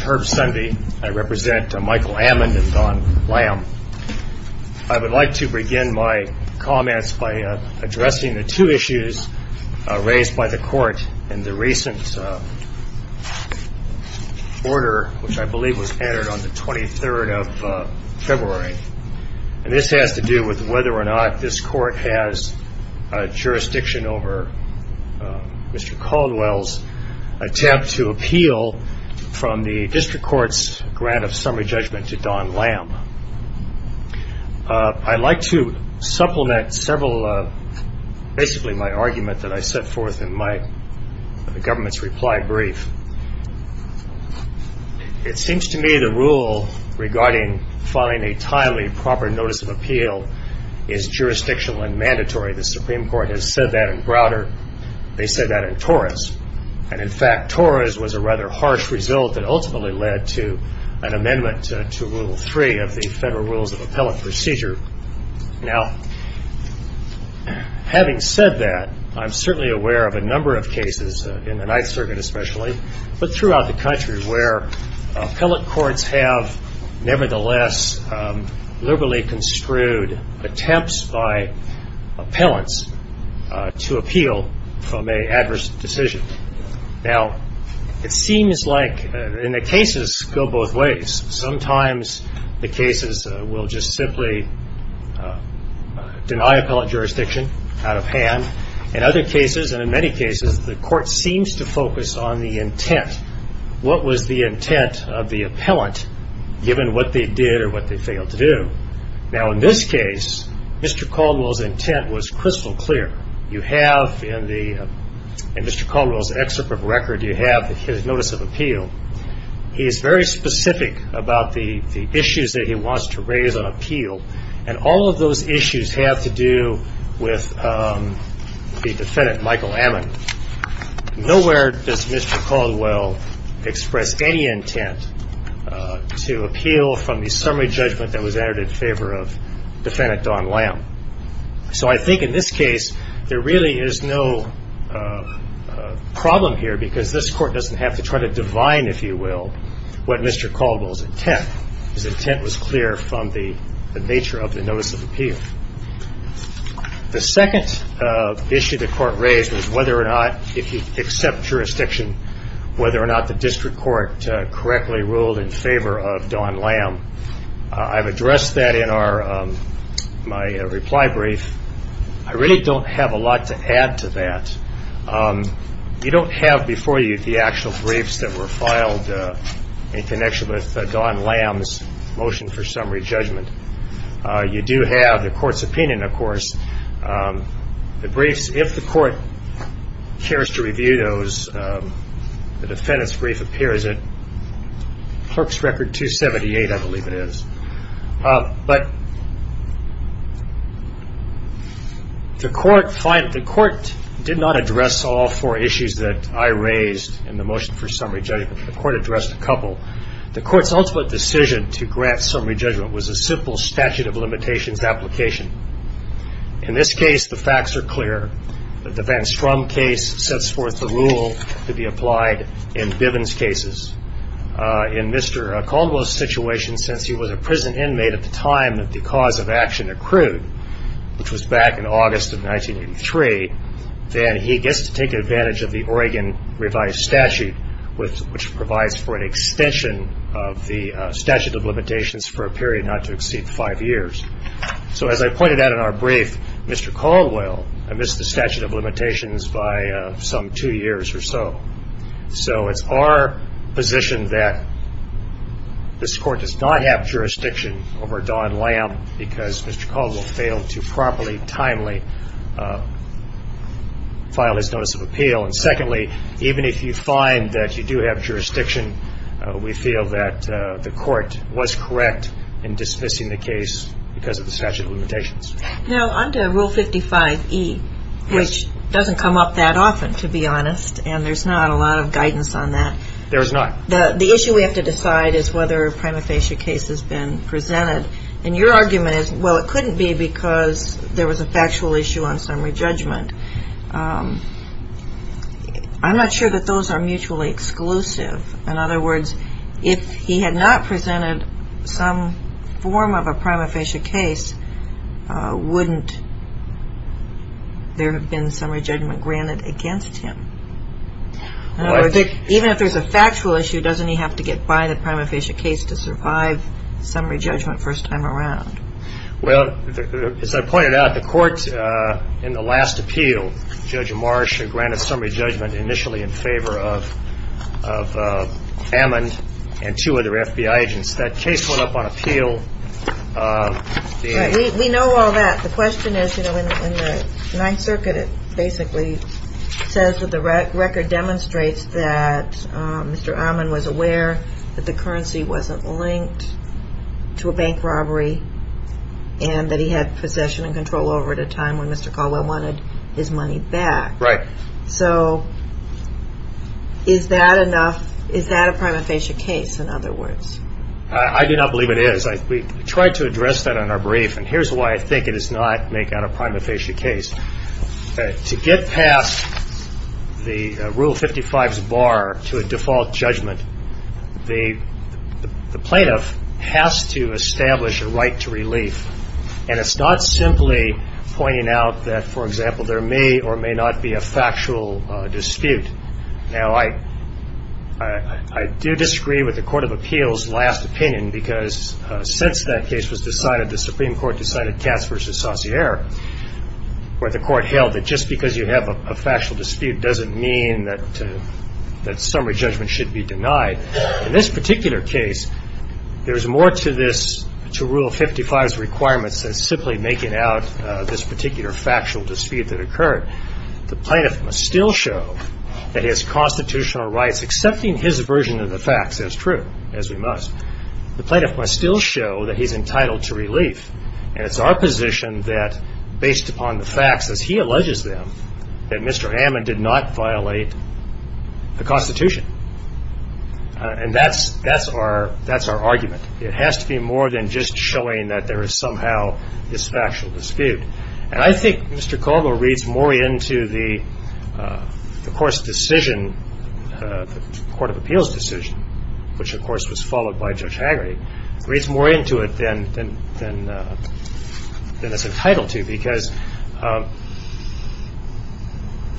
Herb Sundy v. Michael Amend I would like to begin my comments by addressing the two issues raised by the court in the recent order which I believe was entered on the 23rd of February. This has to do with whether or not this court has jurisdiction over Mr. Caldwell's attempt to appeal from the district court's grant of summary judgment to Don Lamb. I'd like to supplement several of basically my argument that I set forth in my government's reply brief. It seems to me the rule regarding filing a timely, proper notice of appeal is jurisdictional and mandatory. The Supreme Court has said that in Browder. They said that in Torres. And in fact, Torres was a rather harsh result that ultimately led to an amendment to Rule 3 of the Federal Rules of Appellate Procedure. Now, having said that, I'm certainly aware of a number of cases, in the Ninth Circuit especially, but throughout the country where appellate courts have nevertheless liberally construed attempts by appellants to appeal from an adverse decision. Now, it seems like in the cases go both ways. Sometimes the cases will just simply deny appellant jurisdiction out of hand. In other cases, and in many cases, the court seems to focus on the intent. What was the intent of the appellant given what they did or what they failed to do? Now, in this case, Mr. Caldwell's intent was crystal clear. You have in Mr. Caldwell's excerpt of record, you have his notice of appeal. He is very specific about the issues that he wants to raise on appeal. And all of those issues have to do with the defendant, Michael Ammon. Nowhere does Mr. Caldwell express any intent to appeal from the summary judgment that was entered in favor of defendant Don Lamb. So I think in this case, there really is no problem here because this court doesn't have to try to divine, if you will, what Mr. Caldwell's intent. His intent was clear from the nature of the notice of appeal. The second issue the court raised was whether or not, if he'd accept jurisdiction, whether or not the district court correctly ruled in favor of Don Lamb. I've addressed that in my reply brief. I really don't have a lot to add to that. You don't have before you the actual briefs that were filed in connection with Don Lamb's motion for summary judgment. You do have the court's opinion, of course. The briefs, if the court cares to review those, the defendant's brief appears at Clerk's Record 278, I believe it is. But the court did not address all four issues that I raised in the motion for summary judgment. The court's ultimate decision to grant summary judgment was a simple statute of limitations application. In this case, the facts are clear. The Van Strom case sets forth the rule to be applied in Bivens cases. In Mr. Caldwell's situation, since he was a prison inmate at the time that the cause of action accrued, which was back in August of 1983, then he gets to take advantage of the Oregon revised statute, which provides for an extension of the statute of limitations for a period not to exceed five years. So as I pointed out in our brief, Mr. Caldwell missed the statute of limitations by some two years or so. So it's our position that this court does not have jurisdiction over Don Lamb because Mr. Caldwell failed to properly, timely file his notice of appeal. And secondly, even if you find that you do have jurisdiction, we feel that the court was correct in dismissing the case because of the statute of limitations. Now, under Rule 55E, which doesn't come up that often, to be honest, and there's not a lot of guidance on that. There's not. The issue we have to decide is whether a prima facie case has been presented. And your argument is, well, it couldn't be because there was a factual issue on summary judgment. I'm not sure that those are mutually exclusive. In other words, if he had not presented some form of a prima facie case, wouldn't there have been summary judgment granted against him? Even if there's a factual issue, doesn't he have to get by the prima facie case to survive summary judgment first time around? Well, as I pointed out, the court in the last appeal, Judge Marsh, granted summary judgment initially in favor of Ammon and two other FBI agents. That case went up on appeal. We know all that. The question is, you know, in the Ninth Circuit, it basically says that the record demonstrates that Mr. Ammon was aware that the currency wasn't linked to a bank robbery and that he had possession and control over it at a time when Mr. Caldwell wanted his money back. Right. So is that enough? Is that a prima facie case, in other words? I do not believe it is. We tried to address that on our brief, and here's why I think it is not, make that a prima facie case. To get past the Rule 55's bar to a default judgment, the plaintiff has to establish a right to relief. And it's not simply pointing out that, for example, there may or may not be a factual dispute. Now, I do disagree with the Court of Appeals' last opinion, because since that case was decided, the Supreme Court decided Cass v. Saussure, where the Court held that just because you have a factual dispute doesn't mean that summary judgment should be denied. In this particular case, there's more to this, to Rule 55's requirements, than simply making out this particular factual dispute that occurred. The plaintiff must still show that his constitutional rights, accepting his version of the facts as true, as we must, the plaintiff must still show that he's entitled to relief. And it's our position that, based upon the facts as he alleges them, that Mr. Hammond did not violate the Constitution. And that's our argument. It has to be more than just showing that there is somehow this factual dispute. And I think Mr. Caldwell reads more into the, of course, decision, the Court of Appeals' decision, which, of course, was followed by Judge Haggerty, reads more into it than it's entitled to, because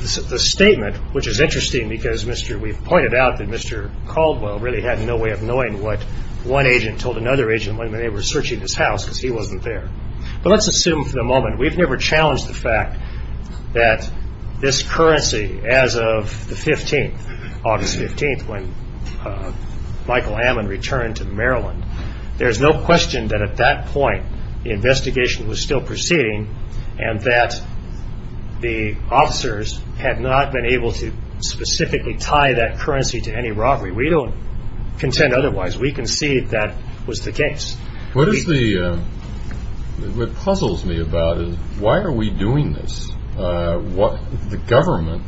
the statement, which is interesting, because we've pointed out that Mr. Caldwell really had no way of knowing what one agent told another agent when they were searching his house, because he wasn't there. But let's assume for the moment, we've never challenged the fact that this currency, as of the 15th, August 15th, when Michael Hammond returned to Maryland, there's no question that at that point the investigation was still proceeding and that the officers had not been able to specifically tie that currency to any robbery. We don't contend otherwise. We concede that was the case. What is the, what puzzles me about it, why are we doing this? What, the government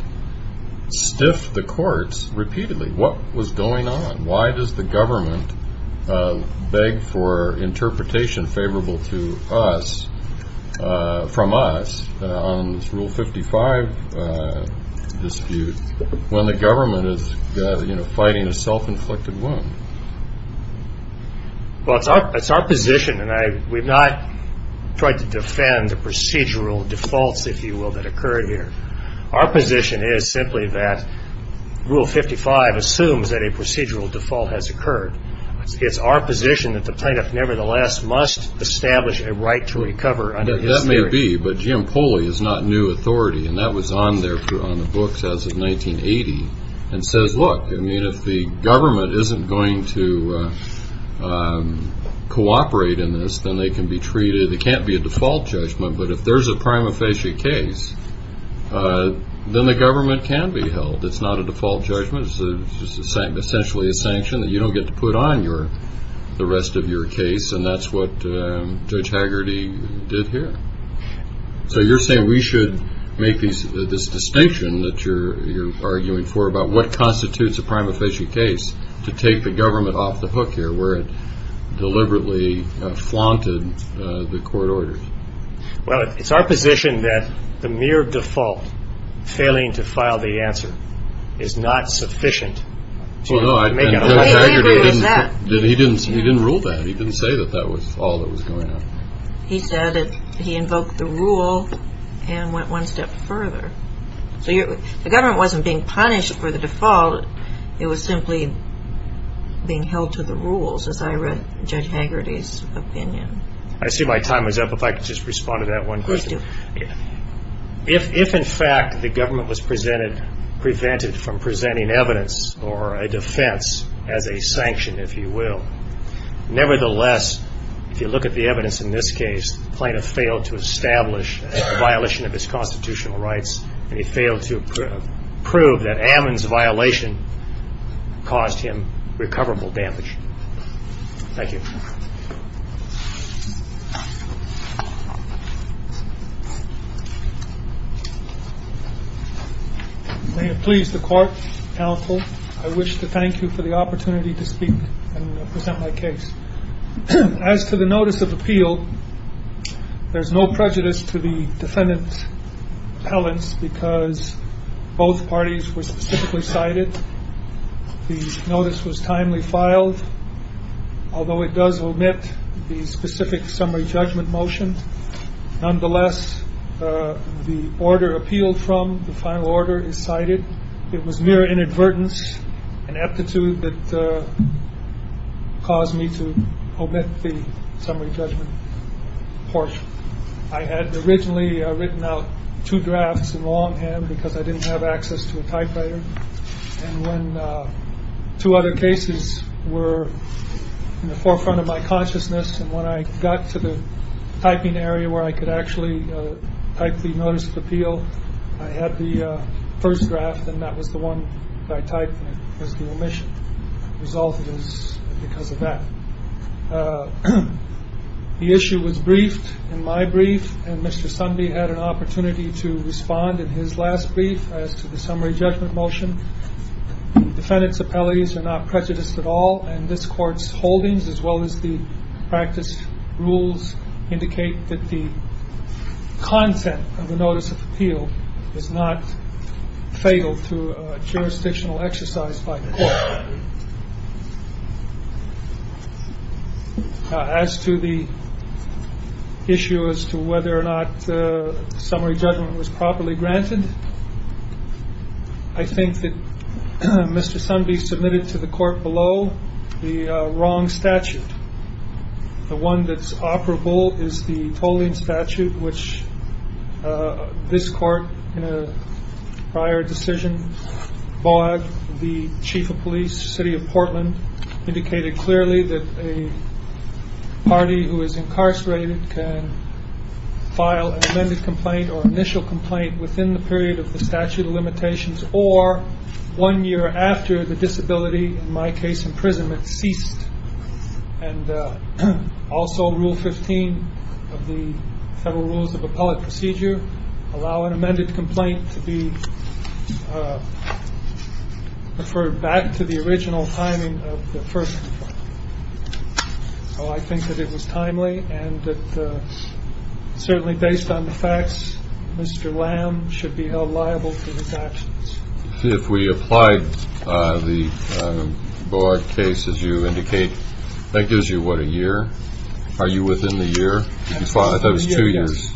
stiffed the courts repeatedly. What was going on? Why does the government beg for interpretation favorable to us, from us, on this Rule 55 dispute, when the government is, you know, fighting a self-inflicted wound? Well, it's our, it's our position, and I, we've not tried to defend the procedural defaults, if you will, that occurred here. Our position is simply that Rule 55 assumes that a procedural default has occurred. It's our position that the plaintiff, nevertheless, must establish a right to recover under his theory. That may be, but Jim Pooley is not new authority, and that was on there on the books as of 1980, and says, look, I mean, if the government isn't going to cooperate in this, then they can be treated, it can't be a default judgment, but if there's a prima facie case, then the government can be held. It's not a default judgment. It's essentially a sanction that you don't get to put on your, the rest of your case, and that's what Judge Haggerty did here. So you're saying we should make these, this distinction that you're, you're arguing for about what constitutes a prima facie case to take the government off the hook here, where it deliberately flaunted the court orders? Well, it's our position that the mere default, failing to file the answer, is not sufficient. Well, no, Judge Haggerty didn't, he didn't, he didn't rule that. He didn't say that that was all that was going on. He said that he invoked the rule and went one step further. So the government wasn't being punished for the default. It was simply being held to the rules, as I read Judge Haggerty's opinion. I see my time is up. If I could just respond to that one question. Please do. If in fact the government was presented, prevented from presenting evidence or a defense as a sanction, if you will, nevertheless, if you look at the evidence in this case, the plaintiff failed to establish a violation of his constitutional rights, and he failed to prove that Ammon's violation caused him recoverable damage. Thank you. May it please the court, counsel, I wish to thank you for the opportunity to speak and present my case. As to the notice of appeal, there's no prejudice to the defendant's appellants because both parties were specifically cited. The notice was timely filed, although it does omit the specific summary judgment motion. Nonetheless, the order appealed from, the final order is cited. It was mere inadvertence and aptitude that caused me to omit the summary judgment portion. I had originally written out two drafts in longhand because I didn't have access to a typewriter. And when two other cases were in the forefront of my consciousness and when I got to the typing area where I could actually type the notice of appeal, I had the first draft, and that was the one that I typed, and it was the omission. The result was because of that. The issue was briefed in my brief, and Mr. Sundby had an opportunity to respond in his last brief as to the summary judgment motion. The defendant's appellates are not prejudiced at all, and this Court's holdings as well as the practice rules indicate that the content of the notice of appeal is not fatal to jurisdictional exercise by the Court. As to the issue as to whether or not summary judgment was properly granted, I think that Mr. Sundby submitted to the Court below the wrong statute. The one that's operable is the tolling statute, which this Court, in a prior decision, bought the chief of police, city of Portland, indicated clearly that a party who is incarcerated can file an amended complaint or initial complaint within the period of the statute of limitations or one year after the disability, in my case imprisonment, ceased. And also Rule 15 of the Federal Rules of Appellate Procedure allow an amended complaint to be referred back to the original timing of the first. So I think that it was timely, and certainly based on the facts, Mr. Lamb should be held liable for his actions. See, if we applied the BOARD case, as you indicate, that gives you, what, a year? Are you within the year? I thought it was two years.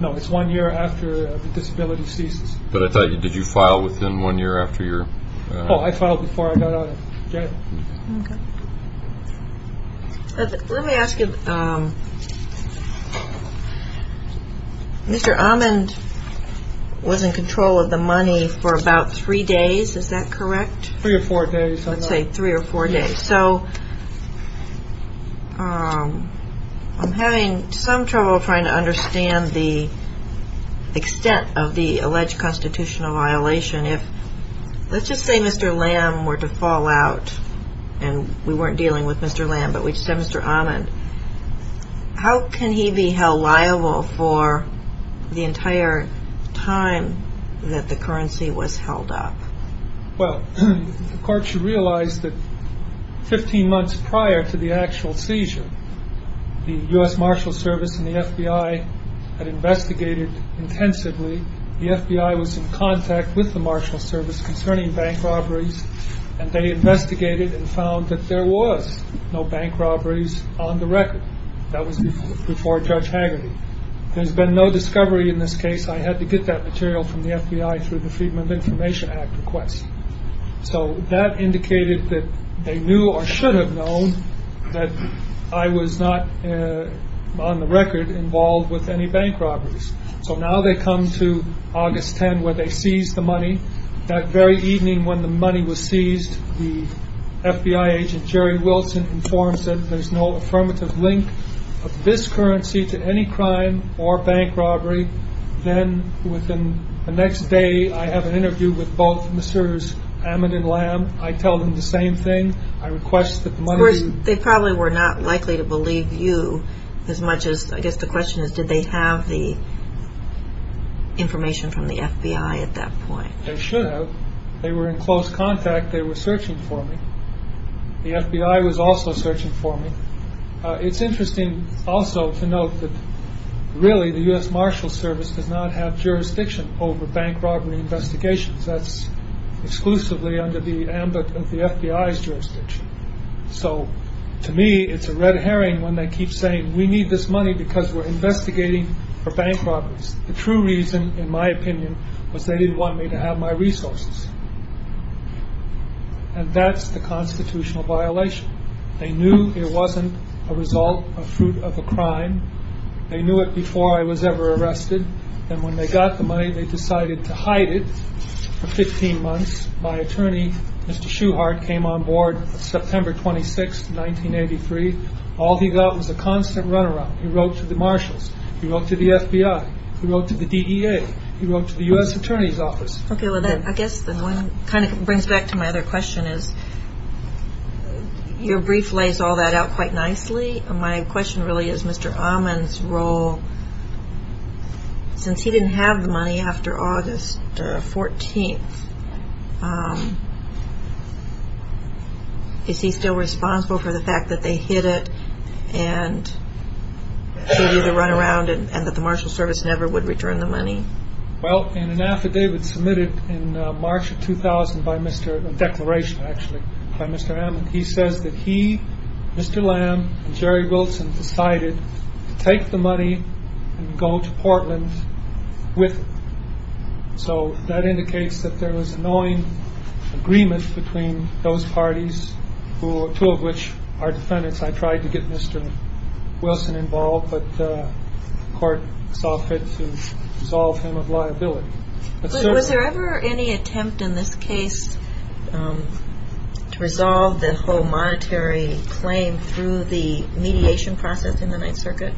No, it's one year after the disability ceases. But I thought, did you file within one year after your... Oh, I filed before I got out of jail. Let me ask you, Mr. Amond was in control of the money for about three days, is that correct? Three or four days. Let's say three or four days. So I'm having some trouble trying to understand the extent of the alleged constitutional violation. Let's just say Mr. Lamb were to fall out, and we weren't dealing with Mr. Lamb, but we just had Mr. Amond. How can he be held liable for the entire time that the currency was held up? Well, the court should realize that 15 months prior to the actual seizure, the U.S. Marshals Service and the FBI had investigated intensively. The FBI was in contact with the Marshals Service concerning bank robberies, and they investigated and found that there was no bank robberies on the record. That was before Judge Hagerty. There's been no discovery in this case. I had to get that material from the FBI through the Freedom of Information Act request. So that indicated that they knew or should have known that I was not, on the record, involved with any bank robberies. So now they come to August 10 where they seize the money. That very evening when the money was seized, the FBI agent, Jerry Wilson, informs them there's no affirmative link of this currency to any crime or bank robbery. Then within the next day, I have an interview with both Mr. Amond and Lamb. I tell them the same thing. Of course, they probably were not likely to believe you as much as, I guess the question is, did they have the information from the FBI at that point? They should have. They were in close contact. They were searching for me. The FBI was also searching for me. It's interesting also to note that really the U.S. Marshals Service does not have jurisdiction over bank robbery investigations. That's exclusively under the ambit of the FBI's jurisdiction. So to me, it's a red herring when they keep saying, we need this money because we're investigating for bank robberies. The true reason, in my opinion, was they didn't want me to have my resources. And that's the constitutional violation. They knew it wasn't a result, a fruit of a crime. They knew it before I was ever arrested. And when they got the money, they decided to hide it for 15 months. My attorney, Mr. Shuhart, came on board September 26, 1983. All he got was a constant runaround. He wrote to the Marshals. He wrote to the FBI. He wrote to the U.S. Attorney's Office. Okay. Well, I guess that kind of brings back to my other question is your brief lays all that out quite nicely. My question really is Mr. Ahman's role. Since he didn't have the money after August 14th, is he still responsible for the fact that they hid it and gave you the runaround Well, in an affidavit submitted in March of 2000 by Mr. A declaration, actually, by Mr. Ahman, he says that he, Mr. Lamb, and Jerry Wilson decided to take the money and go to Portland with him. So that indicates that there was annoying agreement between those parties, two of which are defendants. I tried to get Mr. Wilson involved, but the court saw fit to resolve him of liability. Was there ever any attempt in this case to resolve the whole monetary claim through the mediation process in the Ninth Circuit?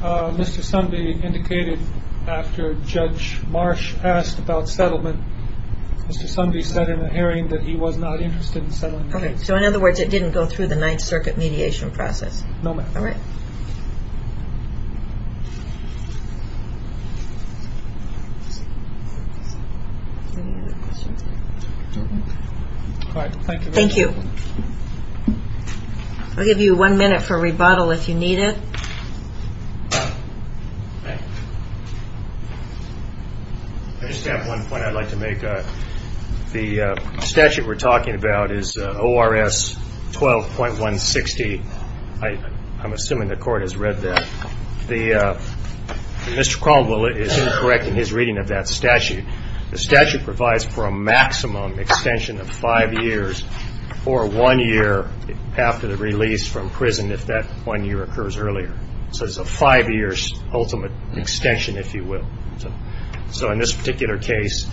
Mr. Sundby indicated after Judge Marsh asked about settlement. Mr. Sundby said in a hearing that he was not interested in settling the case. So, in other words, it didn't go through the Ninth Circuit mediation process? No, ma'am. All right. Any other questions? All right. Thank you. Thank you. I'll give you one minute for rebuttal if you need it. I just have one point I'd like to make. The statute we're talking about is ORS 12.160. I'm assuming the court has read that. Mr. Cromwell is incorrect in his reading of that statute. The statute provides for a maximum extension of five years or one year after the release from prison if that one year occurs earlier. So it's a five-year ultimate extension, if you will. So in this particular case,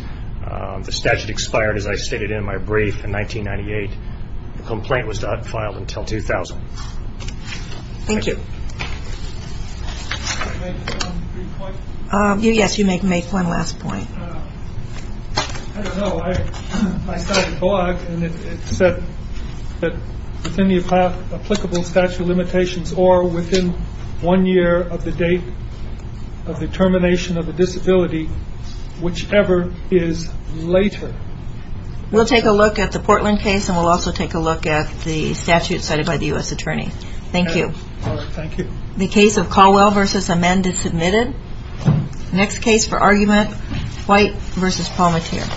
the statute expired, as I stated in my brief, in 1998. The complaint was not filed until 2000. Thank you. Can I make one brief point? Yes, you may make one last point. I don't know. I saw the blog, and it said that within the applicable statute of limitations or within one year of the date of the termination of the disability, whichever is later. We'll take a look at the Portland case, and we'll also take a look at the statute cited by the U.S. attorney. Thank you. All right. Thank you. The case of Caldwell v. Amend is submitted. Next case for argument, White v. Palmatier.